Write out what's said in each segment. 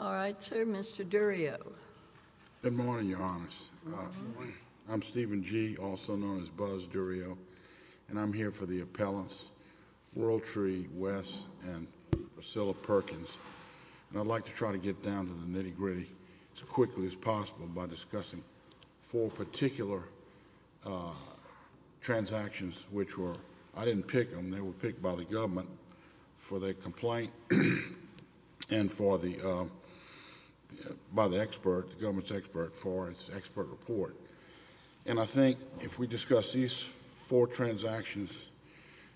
All right, sir. Mr. Durio, good morning. Your Honors. I'm Stephen G. Durio, also known as Buzz Durio, and I'm here for the appellants, World Tree, Wes, and Priscilla Perkins, and I'd like to try to get down to the nitty-gritty as quickly as possible by discussing four particular transactions which were—I didn't pick them. They were picked by the government for their complaint and for the—by the expert, the government's expert, for its expert report. And I think if we discuss these four transactions,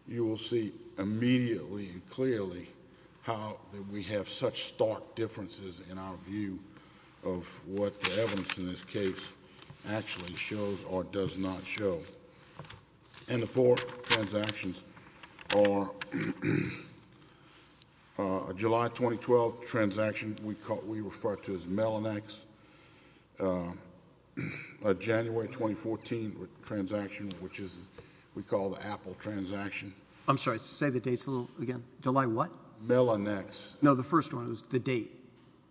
you will see immediately and clearly how we have such stark differences in our view of what the evidence in this case actually shows or does not show. And the four transactions are a July 2012 transaction we call—we refer to as Melannex, a January 2014 transaction which is we call the Apple transaction. I'm sorry. Say the dates a little again. July what? Melannex. No, the first one. It was the date.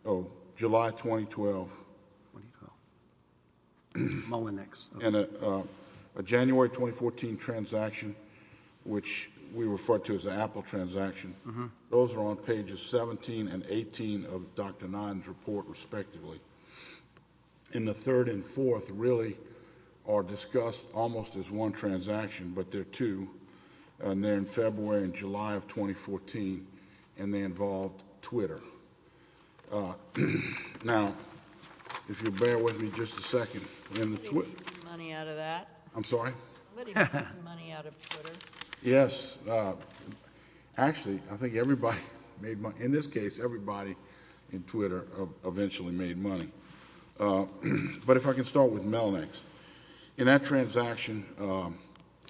Oh, July 2012. Melannex. And a January 2014 transaction which we refer to as the Apple transaction, those are on pages 17 and 18 of Dr. Notton's report, respectively. And the third and fourth really are discussed almost as one transaction, but they're two, and they're in February and July of 2014, and they involved Twitter. Now, if you'll bear with me just a second, in the— Somebody made money out of that. I'm sorry? Somebody made money out of Twitter. Yes. Actually, I think everybody made money. In this case, everybody in Twitter eventually made money. But if I can start with Melannex. In that transaction,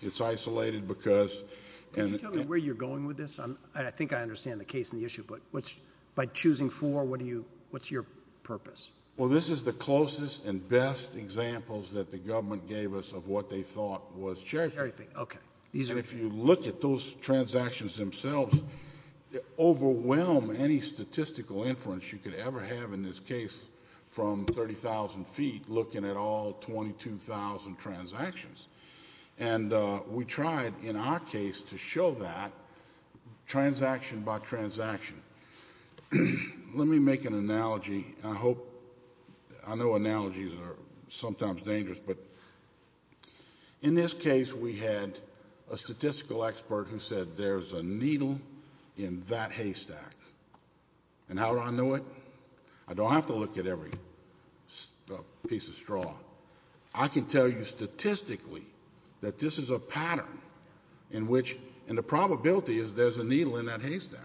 it's isolated because—Can you tell me where you're going with this? I think I understand the case and the issue, but what's—by choosing four, what do you—what's your purpose? Well, this is the closest and the closest that the government gave us of what they thought was check. And if you look at those transactions themselves, they overwhelm any statistical inference you could ever have in this case from 30,000 feet looking at all 22,000 transactions. And we tried in our case to show that transaction by transaction. Let me make an analogy. I hope—I know analogies are sometimes dangerous, but in this case, we had a statistical expert who said, there's a needle in that haystack. And how do I know it? I don't have to look at every piece of straw. I can tell you statistically that this is a pattern in which—and the probability is there's a needle in that haystack.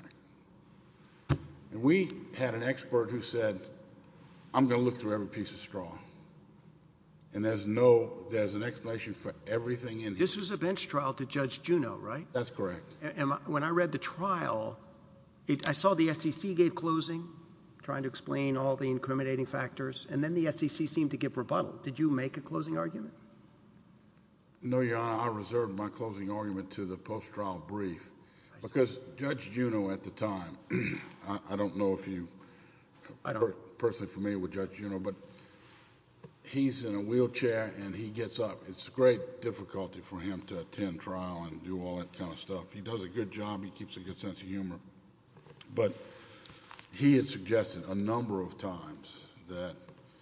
And we had an expert who said, I'm going to look through every piece of straw. And there's no—there's an explanation for everything in here. This was a bench trial to Judge Juneau, right? That's correct. And when I read the trial, I saw the SEC gave closing, trying to explain all the incriminating factors, and then the SEC seemed to give rebuttal. Did you make a closing argument? No, Your Honor, I reserved my closing argument to the post-trial brief because Judge Juneau at the time—I don't know if you are personally familiar with Judge Juneau, but he's in a wheelchair and he gets up. It's great difficulty for him to attend trial and do all that kind of stuff. He does a good job. He keeps a good sense of humor. But he had suggested a number of times that...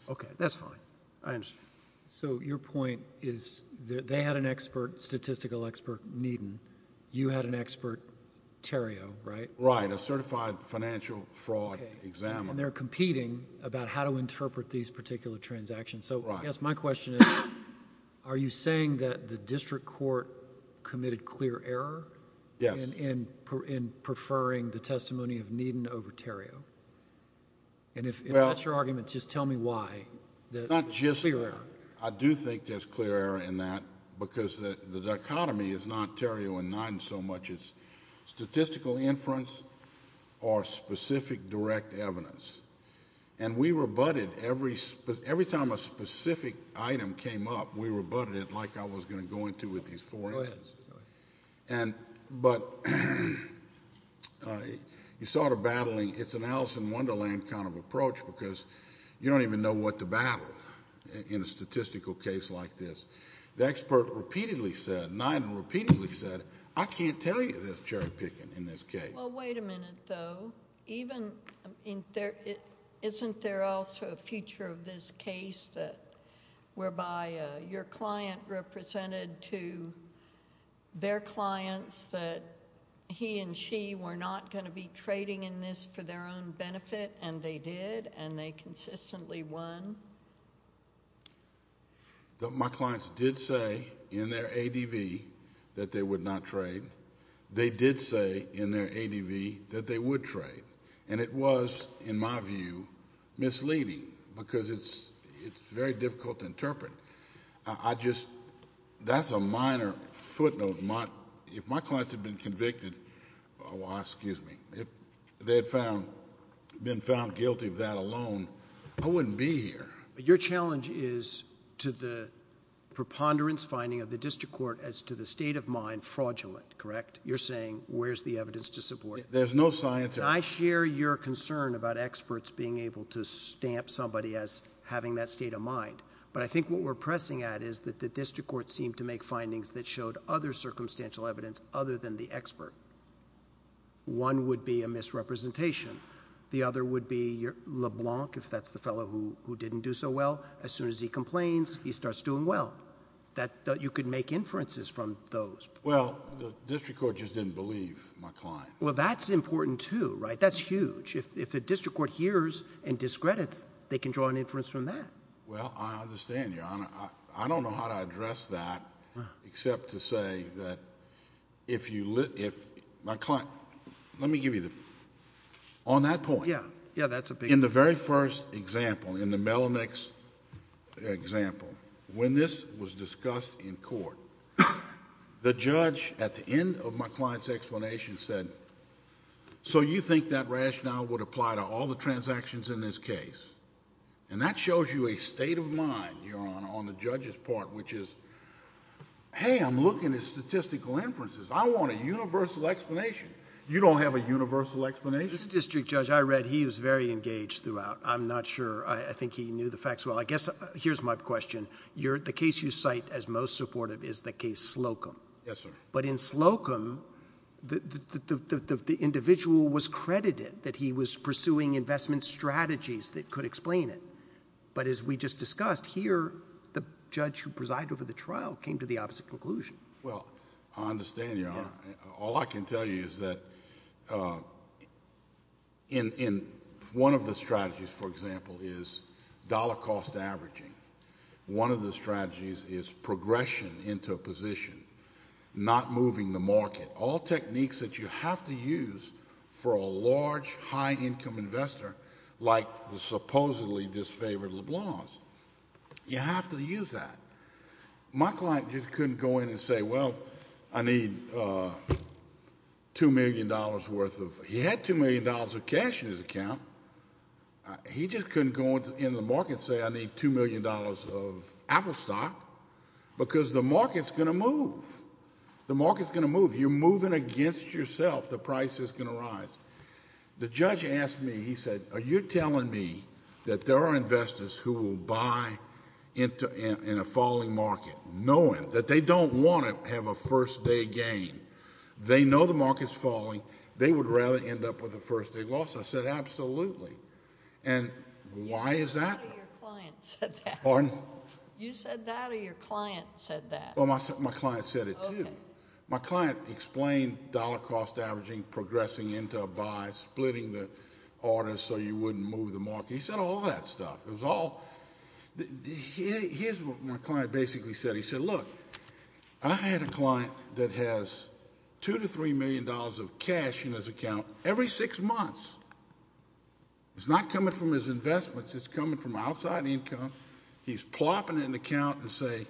Okay, that's fine. I understand. So your point is they had an expert, statistical expert, Needon. You had an expert, Theriault, right? Right, a certified financial fraud examiner. And they're competing about how to interpret these particular transactions. So, yes, my question is, are you saying that the district court committed clear error in preferring the testimony of Needon over Theriault? And if that's your argument, just tell me why. It's not just—I do think there's clear error in that because the dichotomy is not Theriault and Neidon so much as statistical inference or specific direct evidence. And we rebutted every time a specific item came up, we rebutted it like I was going to go into with these four answers. Go ahead. But you saw the battling. It's an Alice in Wonderland kind of approach because you don't even know what to battle in a statistical case like this. The expert repeatedly said, Neidon repeatedly said, I can't tell you there's cherry picking in this case. Well, wait a minute though. Isn't there also a future of this case whereby your client represented to their clients that he and she were not going to be trading in this for their own one? My clients did say in their ADV that they would not trade. They did say in their ADV that they would trade. And it was, in my view, misleading because it's very difficult to interpret. That's a minor footnote. If my clients had been convicted—well, excuse me. If they had been found guilty of that alone, I wouldn't be here. Your challenge is to the preponderance finding of the district court as to the state of mind fraudulent, correct? You're saying where's the evidence to support it? There's no scientific— I share your concern about experts being able to stamp somebody as having that state of mind. But I think what we're pressing at is that the district court seemed to make findings that showed other circumstantial evidence other than the expert. One would be a misrepresentation. The other would be LeBlanc, if that's the fellow who didn't do so well. As soon as he complains, he starts doing well. That you could make inferences from those. Well, the district court just didn't believe my client. Well, that's important too, right? That's huge. If the district court hears and discredits, they can draw an inference from that. Well, I understand, Your Honor. I don't know how to address that except to say that if my client—let me give you the—on that point, in the very first example, in the Melinex example, when this was discussed in court, the judge at the end of my client's explanation said, so you think that rationale would apply to all the transactions in this case? And that shows you a state of mind, Your Honor, on the judge's part, which is, hey, I'm looking at statistical inferences. I want a universal explanation. This district judge, I read, he was very engaged throughout. I'm not sure. I think he knew the facts well. I guess, here's my question. The case you cite as most supportive is the case Slocum. Yes, sir. But in Slocum, the individual was credited that he was pursuing investment strategies that could explain it. But as we just discussed, here, the judge who presided over the trial came to the opposite conclusion. Well, I understand, Your Honor. All I can tell you is that in—one of the strategies, for example, is dollar cost averaging. One of the strategies is progression into a position, not moving the market, all techniques that you have to use for a large, high-income investor like the supposedly disfavored LeBlancs. You have to use that. My client just couldn't go in and say, well, I need $2 million worth of—he had $2 million of cash in his account. He just couldn't go into the market and say, I need $2 million of Apple stock, because the market's going to move. The market's going to move. You're moving against yourself. The price is going to rise. The judge asked me, he said, are you telling me that there are investors who will buy in a falling market, knowing that they don't want to have a first-day gain? They know the market's falling. They would rather end up with a first-day loss. I said, absolutely. And why is that? You said that or your client said that? Pardon? You said that or your client said that? Well, my client said it, too. Okay. My client explained dollar-cost averaging, progressing into a buy, splitting the order so you wouldn't move the market. He said all that stuff. It was all—here's what my client basically said. He said, look, I had a client that has $2 to $3 million of cash in his account every six months. It's not coming from his investments. It's coming from outside income. He's plopping in an account and say,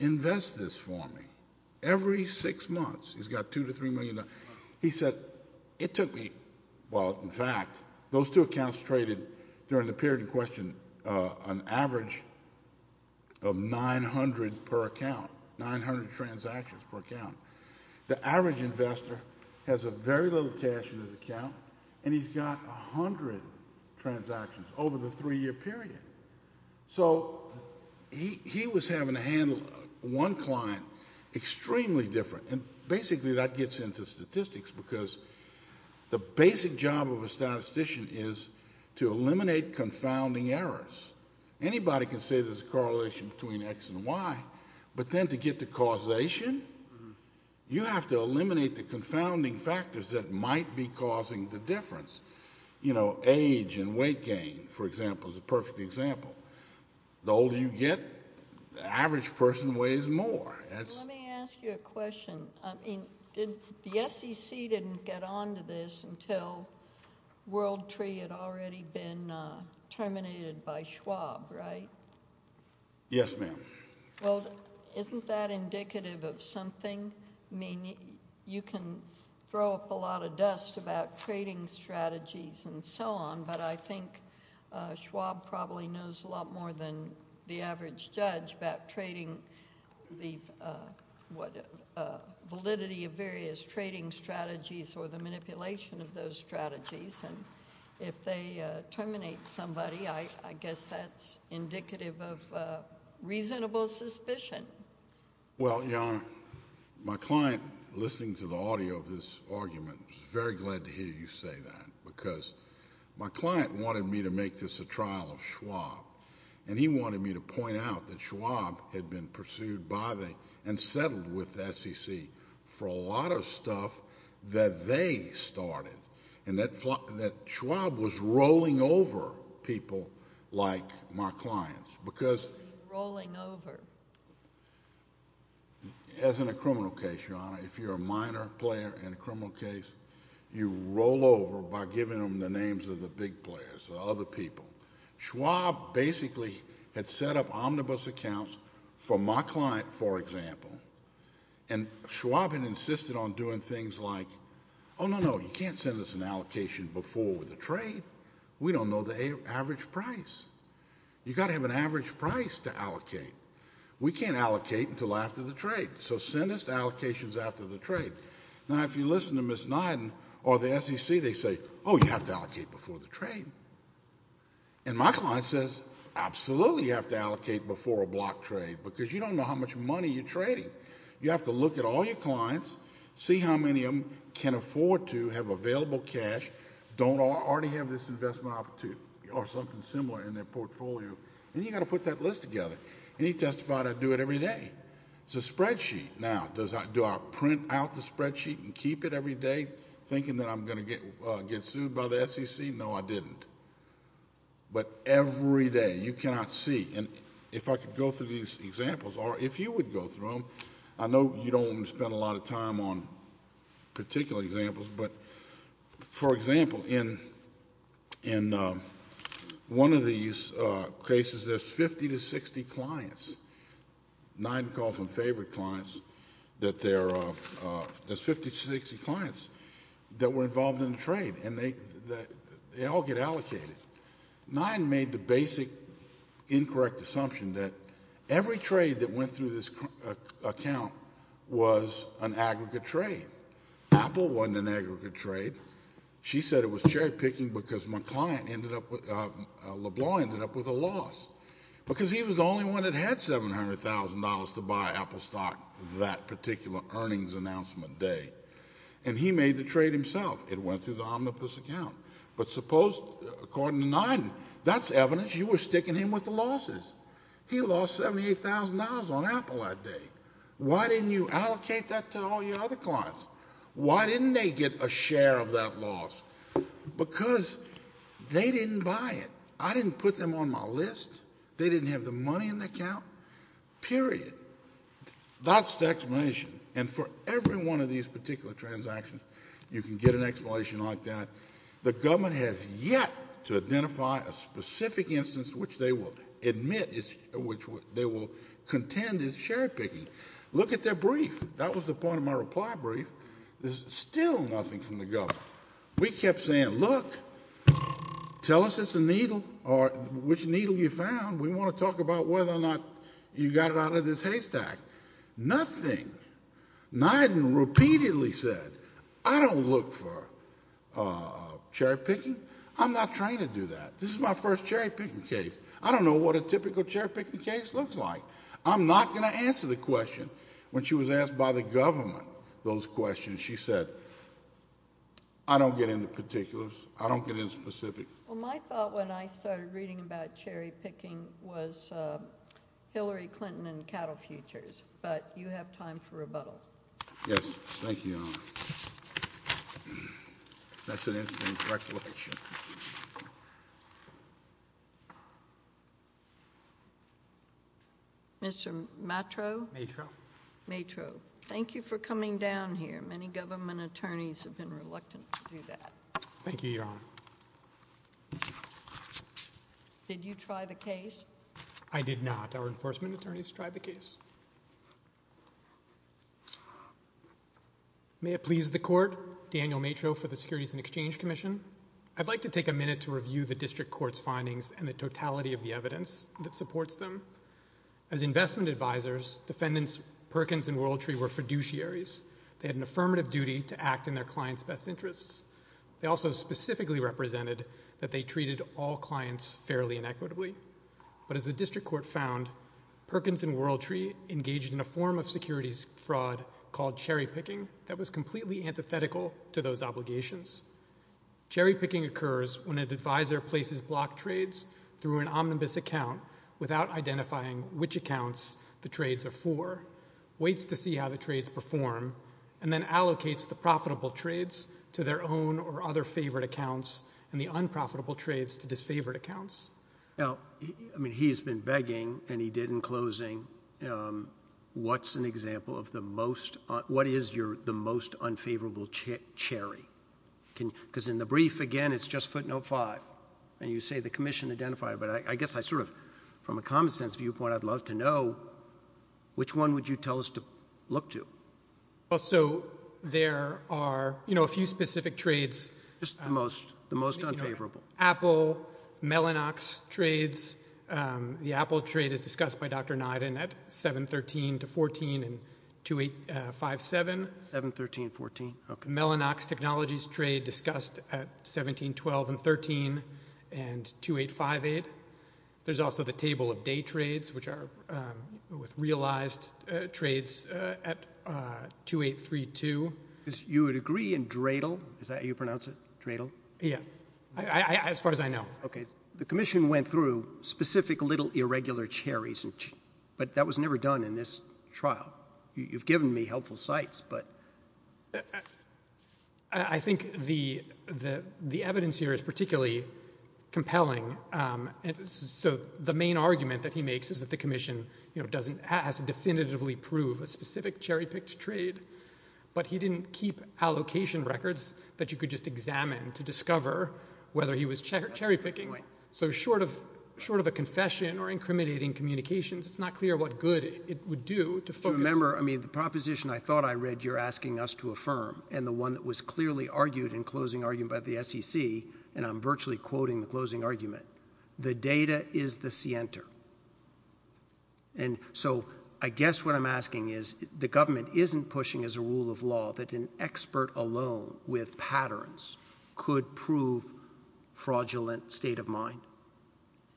invest this for me. Every six months, he's got $2 to $3 million. He said, it took me—well, in fact, those two accounts traded during the period in question an average of 900 per account, 900 transactions per account. The average investor has very little cash in his account, and he's got 100 transactions over the three-year period. So he was having to handle one client extremely different, and basically that gets into statistics because the basic job of a statistician is to eliminate confounding errors. Anybody can say there's a correlation between X and Y, but then to get to causation, you have to eliminate the confounding factors that might be causing the difference. You know, age and weight gain, for example, is a perfect example. The older you get, the average person weighs more. Let me ask you a question. I mean, the SEC didn't get onto this until WorldTree had already been terminated by Schwab, right? Yes, ma'am. Well, isn't that indicative of something? I mean, you can throw up a lot of dust about trading strategies and so on, but I think Schwab probably knows a lot more than the average judge about trading, the validity of various trading strategies or the manipulation of those strategies, and if they terminate somebody, I guess that's indicative of reasonable suspicion. Well, Your Honor, my client, listening to the audio of this argument, was very glad to hear you say that because my client wanted me to make this a trial of Schwab, and he wanted me to point out that Schwab had been pursued by and settled with the SEC for a lot of stuff that they started, and that Schwab was rolling over people like my clients because— as in a criminal case, Your Honor, if you're a minor player in a criminal case, you roll over by giving them the names of the big players or other people. Schwab basically had set up omnibus accounts for my client, for example, and Schwab had insisted on doing things like, oh, no, no, you can't send us an allocation before with a trade. We don't know the average price. You've got to have an average price to allocate. We can't allocate until after the trade, so send us allocations after the trade. Now, if you listen to Ms. Niden or the SEC, they say, oh, you have to allocate before the trade, and my client says, absolutely you have to allocate before a block trade because you don't know how much money you're trading. You have to look at all your clients, see how many of them can afford to have available cash, don't already have this investment opportunity or something similar in their portfolio, and you've got to put that list together, and he testified I do it every day. It's a spreadsheet. Now, do I print out the spreadsheet and keep it every day thinking that I'm going to get sued by the SEC? No, I didn't, but every day. You cannot see, and if I could go through these examples, or if you would go through them, I know you don't want to spend a lot of time on particular examples, but for example, one of these cases, there's 50 to 60 clients, Niden calls them favorite clients, that there's 50 to 60 clients that were involved in the trade, and they all get allocated. Niden made the basic incorrect assumption that every trade that went through this account was an aggregate trade. Apple wasn't an aggregate trade. She said it was cherry picking because my client LeBlanc ended up with a loss because he was the only one that had $700,000 to buy Apple stock that particular earnings announcement day, and he made the trade himself. It went through the omnibus account, but suppose, according to Niden, that's evidence you were sticking him with the losses. He lost $78,000 on Apple that day. Why didn't you allocate that to all your other clients? Why didn't they get a share of that loss? Because they didn't buy it. I didn't put them on my list. They didn't have the money in the account. Period. That's the explanation, and for every one of these particular transactions, you can get an explanation like that. The government has yet to identify a specific instance which they will admit, which they will contend is cherry picking. Look at their brief. That was the point of my reply brief. There's still nothing from the government. We kept saying, look, tell us it's a needle or which needle you found. We want to talk about whether or not you got it out of this haystack. Nothing. Niden repeatedly said, I don't look for cherry picking. I'm not trying to do that. This is my first cherry picking case. I don't know what a typical cherry picking case looks like. I'm not going to answer the question. When she was asked by the government those questions, she said, I don't get into particulars. I don't get into specifics. Well, my thought when I started reading about cherry picking was Hillary Clinton and Donald Trump. Mr. Matro, thank you for coming down here. Many government attorneys have been reluctant to do that. Thank you, Your Honor. Did you try the case? I did not. Our enforcement attorneys tried the case. May it please the court, Daniel Matro for the Securities and Exchange Commission. I'd like to take a minute to review the district court's findings and the totality of the evidence. As investment advisors, defendants Perkins and Worldtree were fiduciaries. They had an affirmative duty to act in their client's best interests. They also specifically represented that they treated all clients fairly and equitably. But as the district court found, Perkins and Worldtree engaged in a form of securities fraud called cherry picking that was completely antithetical to those obligations. Cherry picking occurs when an advisor places block trades through an omnibus account without identifying which accounts the trades are for, waits to see how the trades perform, and then allocates the profitable trades to their own or other favored accounts and the unprofitable trades to disfavored accounts. Now, I mean, he's been begging, and he did in closing, what's an example of the most, what is your, the most and you say the commission identified, but I guess I sort of, from a common sense viewpoint, I'd love to know which one would you tell us to look to? Well, so there are, you know, a few specific trades. Just the most, the most unfavorable. Apple, Mellanox trades. The Apple trade is discussed by Dr. Niden at 713 to 14 and 2857. 713, 14, okay. Mellanox technologies trade discussed at 1712 and 13 and 2858. There's also the table of day trades, which are with realized trades at 2832. You would agree in Dradle, is that how you pronounce it, Dradle? Yeah, as far as I know. Okay. The commission went through specific little irregular cherries, but that was never done in this trial. You've given me helpful sites, but... I think the, the, the evidence here is particularly compelling. So the main argument that he makes is that the commission, you know, doesn't, has to definitively prove a specific cherry picked trade, but he didn't keep allocation records that you could just examine to discover whether he was cherry picking. So short of, short of a confession or incriminating communications, it's not clear what good it would do to focus... Remember, I mean, the proposition I thought I read, you're asking us to affirm and the one that was clearly argued in closing argument by the SEC, and I'm virtually quoting the closing argument, the data is the center. And so I guess what I'm asking is the government isn't pushing as a rule of law that an expert alone with patterns could prove fraudulent state of mind?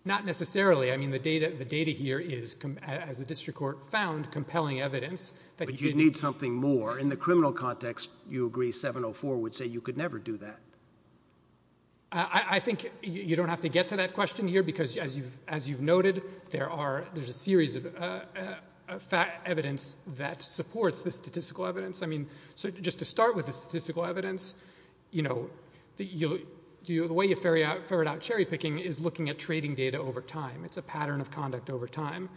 Not necessarily. I mean, the data, the data here is, as a district court found compelling evidence... You'd need something more. In the criminal context, you agree 704 would say you could never do that. I think you don't have to get to that question here because as you've, as you've noted, there are, there's a series of evidence that supports the statistical evidence. I mean, so just to start with the statistical evidence, you know, the way you ferry out, ferried out cherry picking is looking at trading data over time. It's a pattern of conduct over time.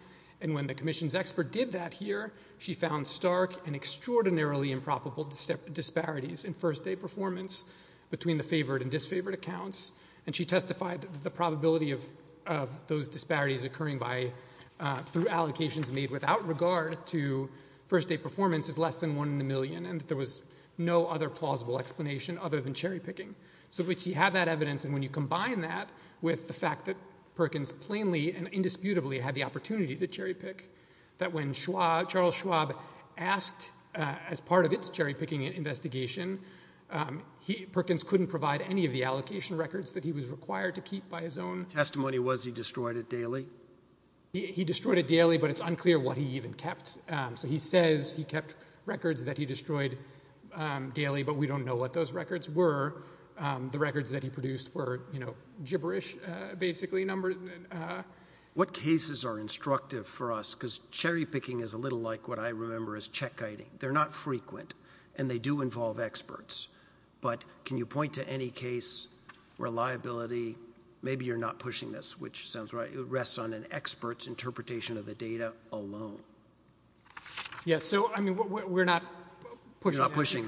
And when the commission's expert did that here, she found stark and extraordinarily improbable disparities in first day performance between the favored and disfavored accounts. And she testified that the probability of, of those disparities occurring by, through allocations made without regard to first day performance is less than one in a million. And there was no other plausible explanation other than cherry picking. So we have that evidence. And when you combine that with the fact that Perkins plainly and that when Schwab, Charles Schwab asked as part of its cherry picking investigation, he Perkins couldn't provide any of the allocation records that he was required to keep by his own testimony was he destroyed it daily? He destroyed it daily, but it's unclear what he even kept. So he says he kept records that he destroyed daily, but we don't know what those records were. The records that he produced were, you know, gibberish, basically number. What cases are instructive for us? Because cherry picking is a little like what I remember as check guiding. They're not frequent and they do involve experts, but can you point to any case where liability, maybe you're not pushing this, which sounds right. It rests on an expert's interpretation of the data alone. Yes. So, I mean, we're not pushing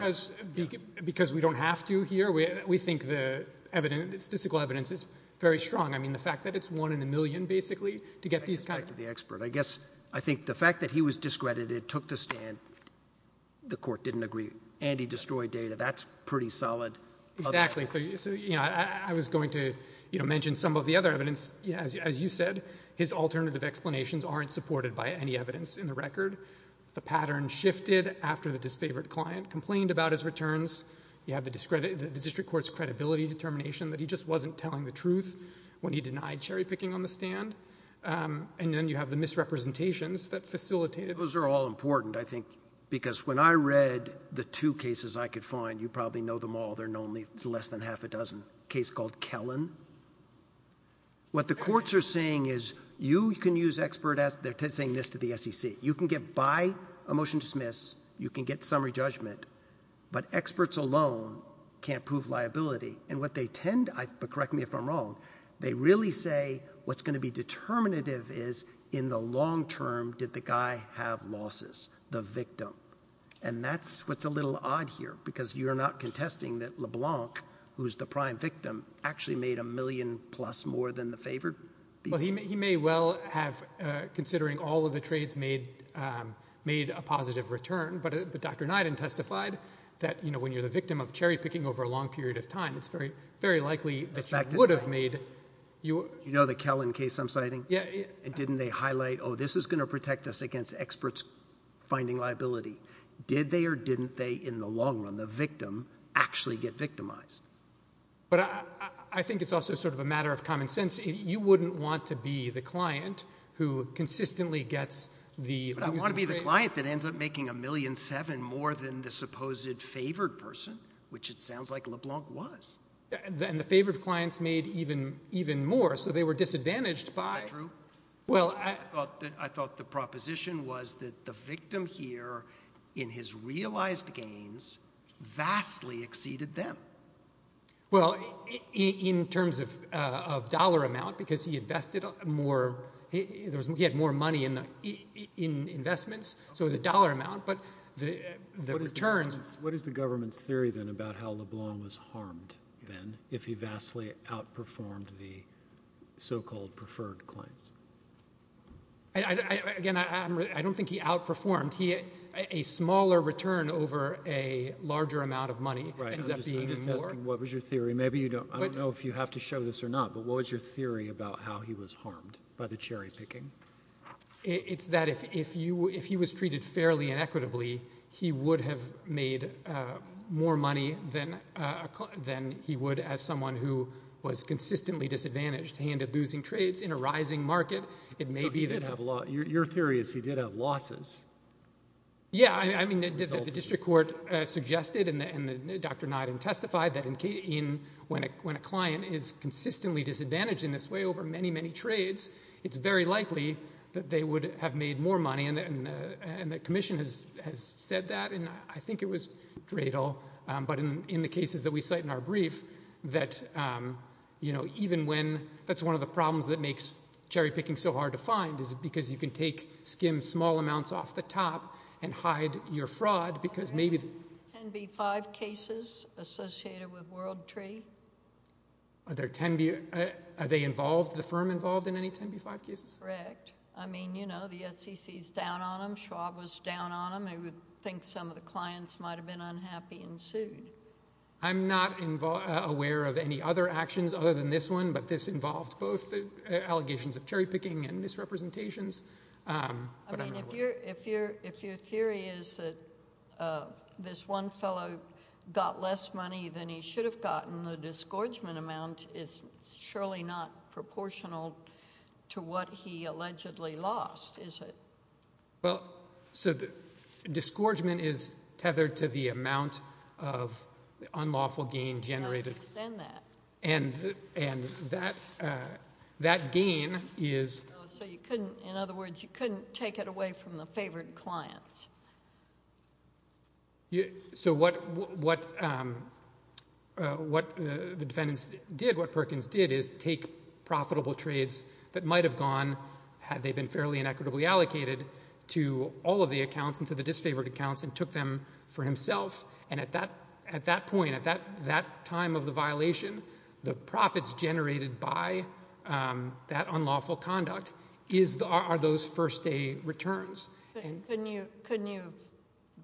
because we don't have to here. We think the evidence, the statistical evidence is very strong. I mean, the fact that it's one in a million, basically, to get these kinds of experts, I guess, I think the fact that he was discredited, took the stand. The court didn't agree and he destroyed data. That's pretty solid. Exactly. So, you know, I was going to, you know, mention some of the other evidence, as you said, his alternative explanations aren't supported by any evidence in the record. The pattern shifted after the disfavored client complained about his returns. You have the discredit, the district court's credibility determination that he just wasn't telling the truth when he denied cherry picking on the stand. And then you have the misrepresentations that facilitated. Those are all important, I think, because when I read the two cases I could find, you probably know them all. They're normally less than half a dozen. Case called Kellan. What the courts are saying is you can use expert as they're saying this to the SEC. You can get by a motion to dismiss. You can get summary judgment. But experts alone can't prove liability. And what they tend to, correct me if I'm wrong, they really say what's going to be determinative is in the long term did the guy have losses, the victim. And that's what's a little odd here because you're not contesting that LeBlanc, who's the prime victim, actually made a million plus more than the favored. Well, he may well have, considering all of the trades, made a positive return. But Dr. Nyden testified that, you know, when you're the victim of cherry picking over a period of time, it's very likely that you would have made. You know the Kellan case I'm citing? Yeah. And didn't they highlight, oh, this is going to protect us against experts finding liability. Did they or didn't they in the long run, the victim, actually get victimized? But I think it's also sort of a matter of common sense. You wouldn't want to be the client who consistently gets the losing trade. But I want to be the client that ends up making a million seven more than the supposed favored person, which it sounds like LeBlanc was. And the favored clients made even more. So they were disadvantaged by. Is that true? Well, I thought the proposition was that the victim here in his realized gains vastly exceeded them. Well, in terms of dollar amount, because he invested more, he had more money in investments. So it was a dollar amount. But the returns. What is the government's theory, then, about how LeBlanc was harmed, then, if he vastly outperformed the so-called preferred clients? Again, I don't think he outperformed. He had a smaller return over a larger amount of money. Right. What was your theory? Maybe you don't. I don't know if you have to show this or not. But what was your theory about how he was harmed by the cherry picking? It's that if he was treated fairly and equitably, he would have made more money than he would as someone who was consistently disadvantaged, handed losing trades in a rising market. It may be that. Your theory is he did have losses. Yeah, I mean, the district court suggested and Dr. Niden testified that when a client is that they would have made more money. And the commission has said that. And I think it was Dradle. But in the cases that we cite in our brief, that, you know, even when that's one of the problems that makes cherry picking so hard to find is because you can take skim small amounts off the top and hide your fraud. Because maybe. 10B5 cases associated with WorldTree. Are there 10B, are they involved, the firm involved in any 10B5 cases? Correct. I mean, you know, the SEC is down on him. Schwab was down on him. I would think some of the clients might have been unhappy and sued. I'm not aware of any other actions other than this one. But this involved both allegations of cherry picking and misrepresentations. I mean, if you're if you're if your theory is that this one fellow got less money than he should have gotten, the disgorgement amount is surely not proportional to what he allegedly lost, is it? Well, so the disgorgement is tethered to the amount of unlawful gain generated. I understand that. And and that that gain is. So you couldn't, in other words, you couldn't take it away from the favored clients. Yeah. So what what what the defendants did, what Perkins did is take profitable trades that might have gone had they been fairly and equitably allocated to all of the accounts and to the disfavored accounts and took them for himself. And at that at that point, at that that time of the violation, the profits generated by that unlawful conduct is are those first day returns. Couldn't you couldn't you have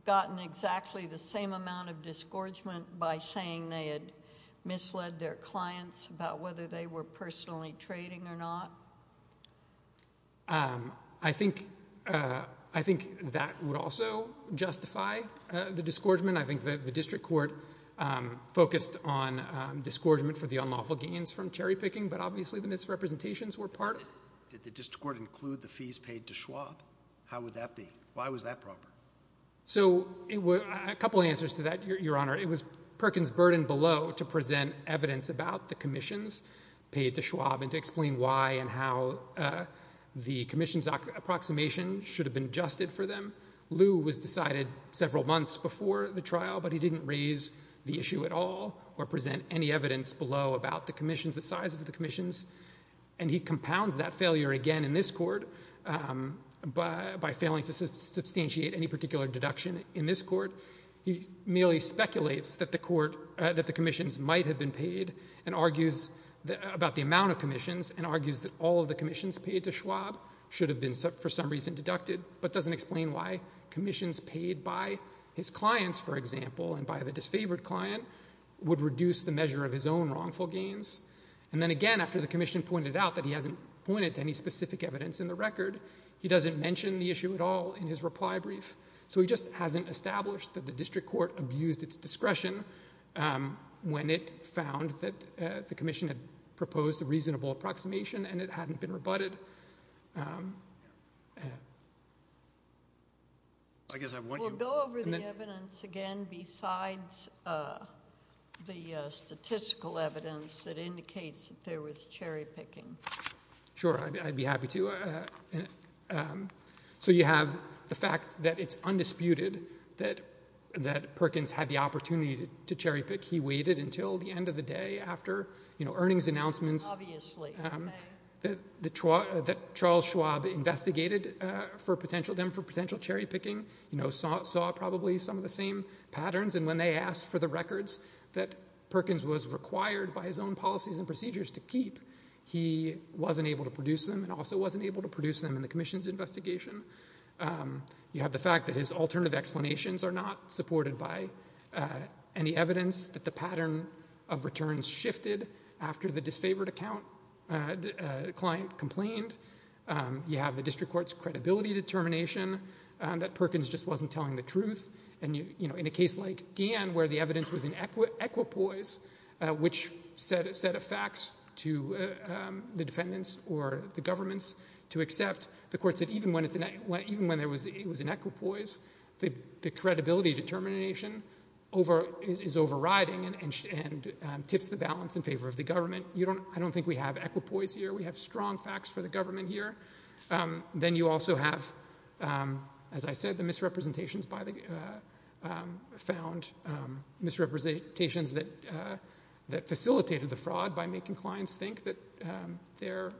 gotten exactly the same amount of disgorgement by saying they had misled their clients about whether they were personally trading or not? I think I think that would also justify the disgorgement. I think the district court focused on disgorgement for the unlawful gains from cherry picking, but obviously the misrepresentations were part of it. Did the district court include the fees paid to Schwab? How would that be? Why was that proper? So it was a couple of answers to that, Your Honor. It was Perkins burden below to present evidence about the commissions paid to Schwab and to explain why and how the commission's approximation should have been adjusted for them. Lew was decided several months before the trial, but he didn't raise the issue at all or present any evidence below about the commissions, the size of the commissions. And he compounds that failure again in this court by failing to substantiate any particular deduction in this court. He merely speculates that the court that the commissions might have been paid and argues about the amount of commissions and argues that all of the commissions paid to Schwab should have been for some reason deducted, but doesn't explain why commissions paid by his clients, for example, and by the disfavored client would reduce the measure of his own wrongful gains. And then again, after the commission pointed out that he hasn't pointed to any specific evidence in the record, he doesn't mention the issue at all in his reply brief. So he just hasn't established that the district court abused its discretion when it found that the commission had proposed a reasonable approximation and it hadn't been rebutted. We'll go over the evidence again besides the statistical evidence that indicates that there was cherry picking. Sure, I'd be happy to. So you have the fact that it's undisputed that Perkins had the opportunity to cherry pick. He waited until the end of the day after earnings announcements. Obviously. That Charles Schwab investigated them for potential cherry picking, you know, saw probably some of the same patterns, and when they asked for the records that Perkins was required by his own policies and procedures to keep, he wasn't able to produce them and also wasn't able to produce them in the commission's investigation. You have the fact that his alternative explanations are not supported by any evidence that the client complained. You have the district court's credibility determination that Perkins just wasn't telling the truth. And, you know, in a case like Gann, where the evidence was in equipoise, which said a fax to the defendants or the governments to accept, the court said even when it was in equipoise, the credibility determination is overriding and tips the balance in favor of the government. I don't think we have equipoise here. We have strong facts for the government here. Then you also have, as I said, the misrepresentations found, misrepresentations that facilitated the fraud by making clients think that their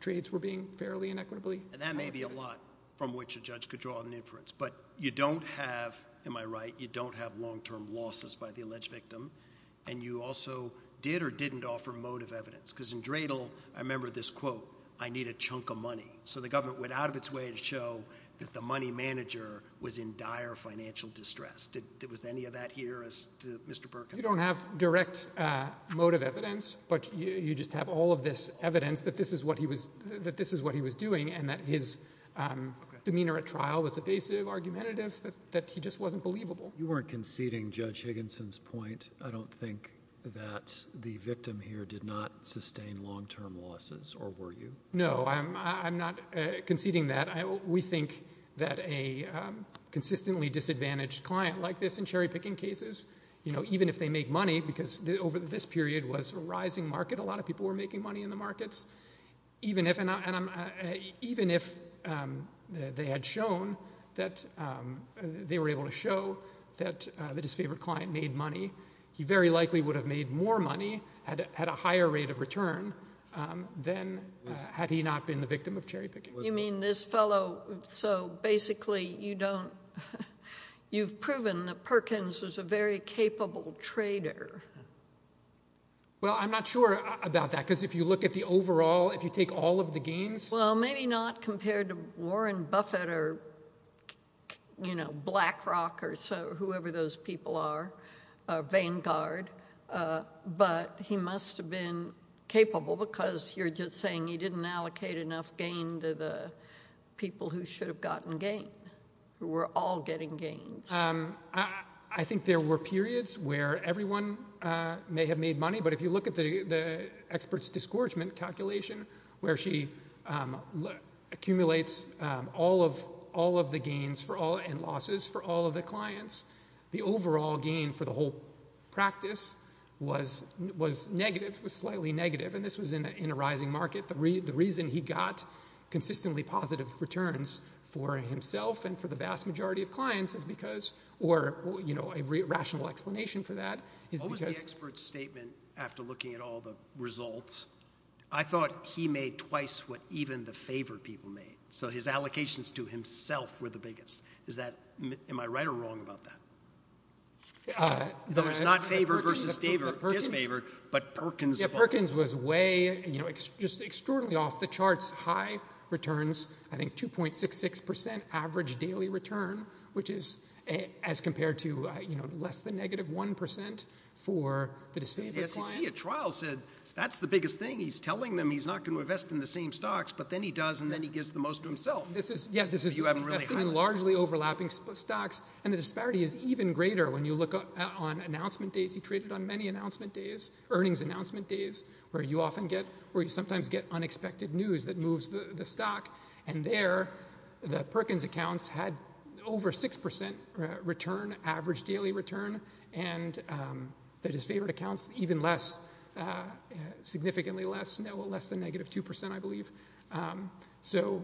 trades were being fairly and equitably. And that may be a lot from which a judge could draw an inference, but you don't have, am I right, you don't have long-term losses by the alleged victim, and you also did or didn't have direct motive evidence. Because in Dradle, I remember this quote, I need a chunk of money. So the government went out of its way to show that the money manager was in dire financial distress. Did, was any of that here as to Mr. Perkins? You don't have direct motive evidence, but you just have all of this evidence that this is what he was, that this is what he was doing and that his demeanor at trial was evasive, argumentative, that he just wasn't believable. You weren't conceding Judge Higginson's point. I don't think that the victim here did not sustain long-term losses, or were you? No, I'm not conceding that. We think that a consistently disadvantaged client like this in cherry-picking cases, you know, even if they make money, because over this period was a rising market, a lot of people were making money in the markets, even if, and I'm, even if they had shown that they were able to show that his favorite client made money, he very likely would have made more money, had a higher rate of return, than had he not been the victim of cherry-picking. You mean this fellow, so basically you don't, you've proven that Perkins was a very capable trader. Well, I'm not sure about that, because if you look at the overall, if you take all of the gains. Well, maybe not compared to Warren Buffett, or, you know, BlackRock, or whoever those people are, or Vanguard, but he must have been capable, because you're just saying he didn't allocate enough gain to the people who should have gotten gain, who were all getting gains. I think there were periods where everyone may have made money, but if you look at the expert's disgorgement calculation, where she accumulates all of the gains for all, and losses for all of the clients, the overall gain for the whole practice was negative, was slightly negative, and this was in a rising market. The reason he got consistently positive returns for himself and for the vast majority of clients is because, or, you know, a rational explanation for that is because— After looking at all the results, I thought he made twice what even the favored people made, so his allocations to himself were the biggest. Am I right or wrong about that? There was not favored versus disfavored, but Perkins— Yeah, Perkins was way, you know, just extraordinarily off the charts high returns, I think 2.66% average daily return, which is as compared to, you know, less than negative 1% for the disfavored. Yes, he, at trial, said that's the biggest thing. He's telling them he's not going to invest in the same stocks, but then he does, and then he gives the most to himself. This is— Yeah, this is investing in largely overlapping stocks, and the disparity is even greater. When you look on announcement days, he traded on many announcement days, earnings announcement days, where you often get, where you sometimes get unexpected news that moves the stock, and there, the Perkins accounts had over 6% return, average daily return, and the disfavored accounts even less, significantly less, no, less than negative 2%, I believe. So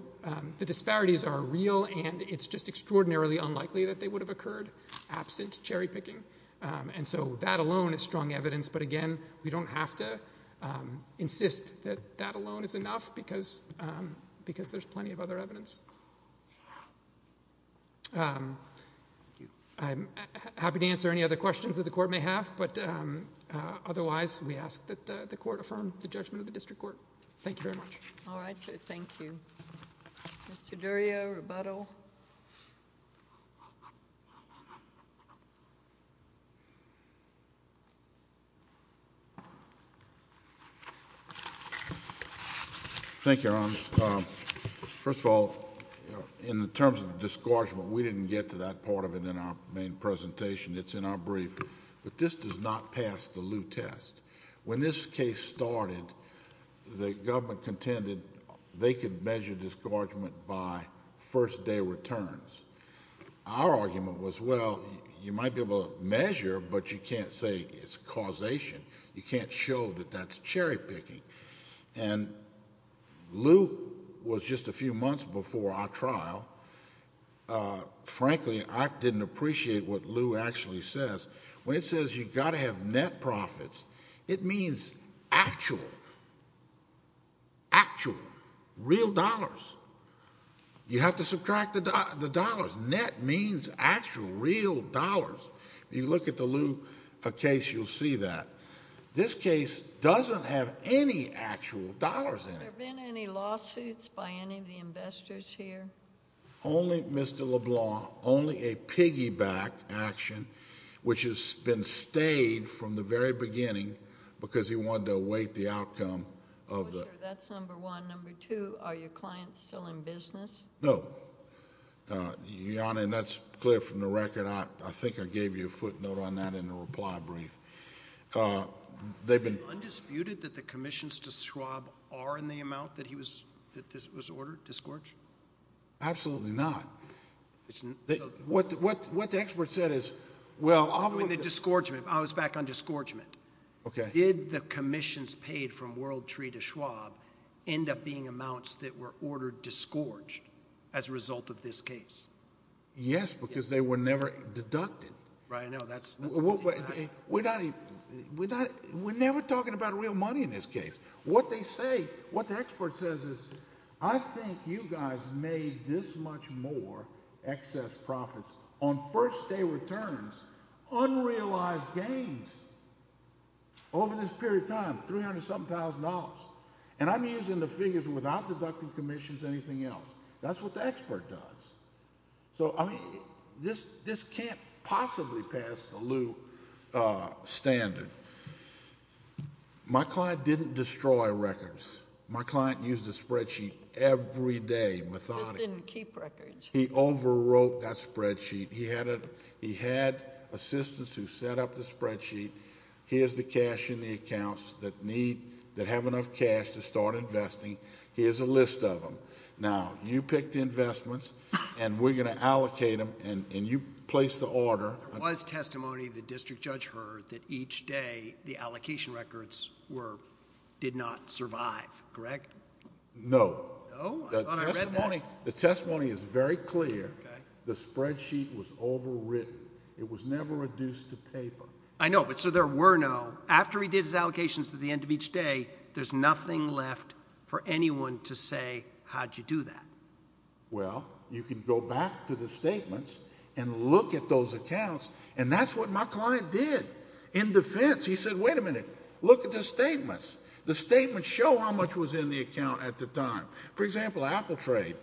the disparities are real, and it's just extraordinarily unlikely that they would have occurred absent cherry picking, and so that alone is strong evidence, but again, we don't have to insist that that alone is enough, because there's plenty of other evidence. I'm happy to answer any other questions that the Court may have, but otherwise, we ask that the Court affirm the judgment of the District Court. Thank you very much. All right. Thank you. Mr. Durrio, rebuttal. Thank you, Your Honor. First of all, in terms of disgorgement, we didn't get to that part of it in our main presentation. It's in our brief, but this does not pass the Liu test. When this case started, the government contended they could measure disgorgement by first day returns. Our argument was, well, you might be able to measure, but you can't say it's causation. You can't show that that's cherry picking. And Liu was just a few months before our trial. Frankly, I didn't appreciate what Liu actually says. When it says you've got to have net profits, it means actual, actual, real dollars. You have to subtract the dollars. Net means actual, real dollars. You look at the Liu case, you'll see that. This case doesn't have any actual dollars in it. Have there been any lawsuits by any of the investors here? Only Mr. LeBlanc, only a piggyback action, which has been stayed from the very beginning because he wanted to await the outcome of the... That's number one. Number two, are your clients still in business? No, Your Honor, and that's clear from the record. I think I gave you a footnote on that in the reply brief. They've been... Undisputed that the commissions to Schwab are in the amount that was ordered, disgorged? Absolutely not. What the expert said is... Well, I was back on disgorgement. Did the commissions paid from WorldTree to Schwab end up being amounts that were ordered disgorged as a result of this case? Yes, because they were never deducted. Right. No, that's... We're never talking about real money in this case. What they say, what the expert says is, I think you guys made this much more excess profits on first day returns, unrealized gains over this period of time, $300-something thousand dollars, and I'm using the figures without deducting commissions, anything else. That's what the expert does. So, I mean, this can't possibly pass the Lew standard. My client didn't destroy records. My client used a spreadsheet every day, methodically. Just didn't keep records. He overwrote that spreadsheet. He had assistants who set up the spreadsheet. Here's the cash in the accounts that have enough cash to start investing. Here's a list of them. Now, you picked investments, and we're going to allocate them, and you placed the order. There was testimony the district judge heard that each day the allocation records did not survive. Correct? No. The testimony is very clear. The spreadsheet was overwritten. It was never reduced to paper. I know, but so there were no... After he did his allocations at the end of each day, there's nothing left for anyone to say how'd you do that. Well, you can go back to the statements and look at those accounts, and that's what my client did in defense. He said, wait a minute, look at the statements. The statements show how much was in the account at the time. For example, Apple Trade.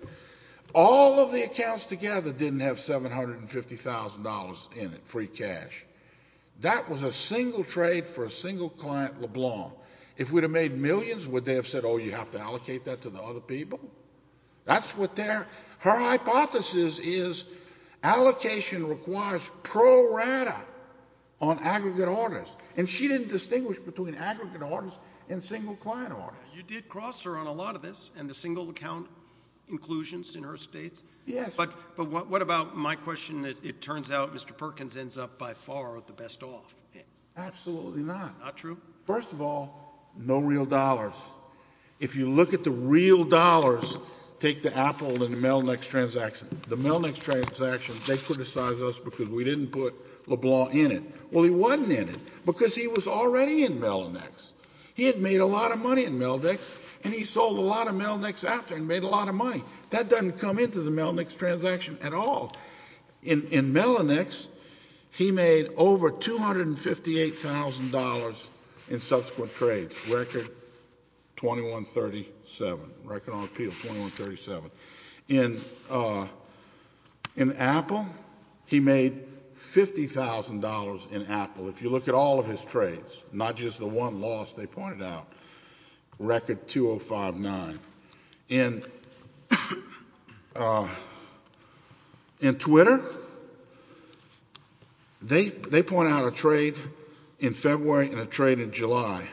All of the accounts together didn't have $750,000 in it, free cash. That was a single trade for a single client, LeBlanc. If we'd have made millions, would they have said, oh, you have to allocate that to the other people? That's what their... Her hypothesis is allocation requires pro rata on aggregate orders, and she didn't distinguish between aggregate orders and single client orders. You did cross her on a lot of this and the single account inclusions in her states. Yes. But what about my question that it turns out Mr. Perkins ends up by far the best off? Absolutely not. Not true? First of all, no real dollars. If you look at the real dollars, take the Apple and the Melnyx transaction. The Melnyx transaction, they criticize us because we didn't put LeBlanc in it. Well, he wasn't in it because he was already in Melnyx. He had made a lot of money in Melnyx, and he sold a lot of Melnyx after and made a lot of money. That doesn't come into the Melnyx transaction at all. In Melnyx, he made over $258,000 in subsequent trades, record 2137, record on appeal, 2137. In Apple, he made $50,000 in Apple. If you look at all of his trades, not just the one loss they pointed out, record 2059. In Twitter, they point out a trade in February and a trade in July.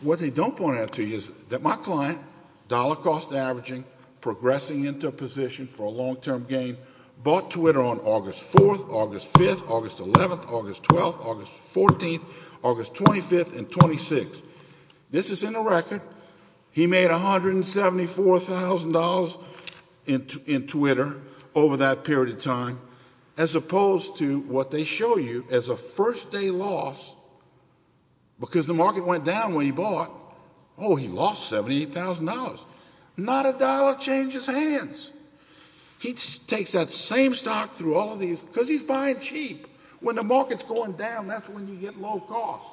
What they don't point out to you is that my client, dollar cost averaging, progressing into a position for a long-term gain, bought Twitter on August 4th, August 5th, August 11th, August 12th, August 14th, August 25th, and 26th. This is in the record. He made $174,000 in Twitter over that period of time, as opposed to what they show you as a first-day loss because the market went down when he bought. Oh, he lost $78,000. Not a dollar changes hands. He takes that same stock through all of these because he's buying cheap. When the market's going down, that's when you get low cost.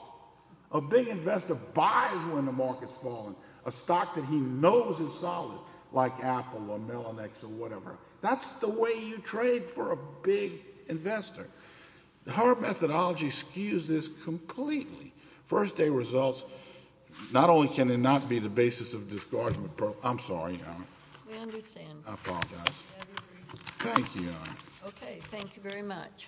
A big investor buys when the market's falling a stock that he knows is solid, like Apple or Melanex or whatever. That's the way you trade for a big investor. Howard Methodology skews this completely. First-day results, not only can they not be the basis of a discardment program. I'm sorry, Your Honor. We understand. I apologize. We agree. Thank you, Your Honor. Okay. Thank you very much.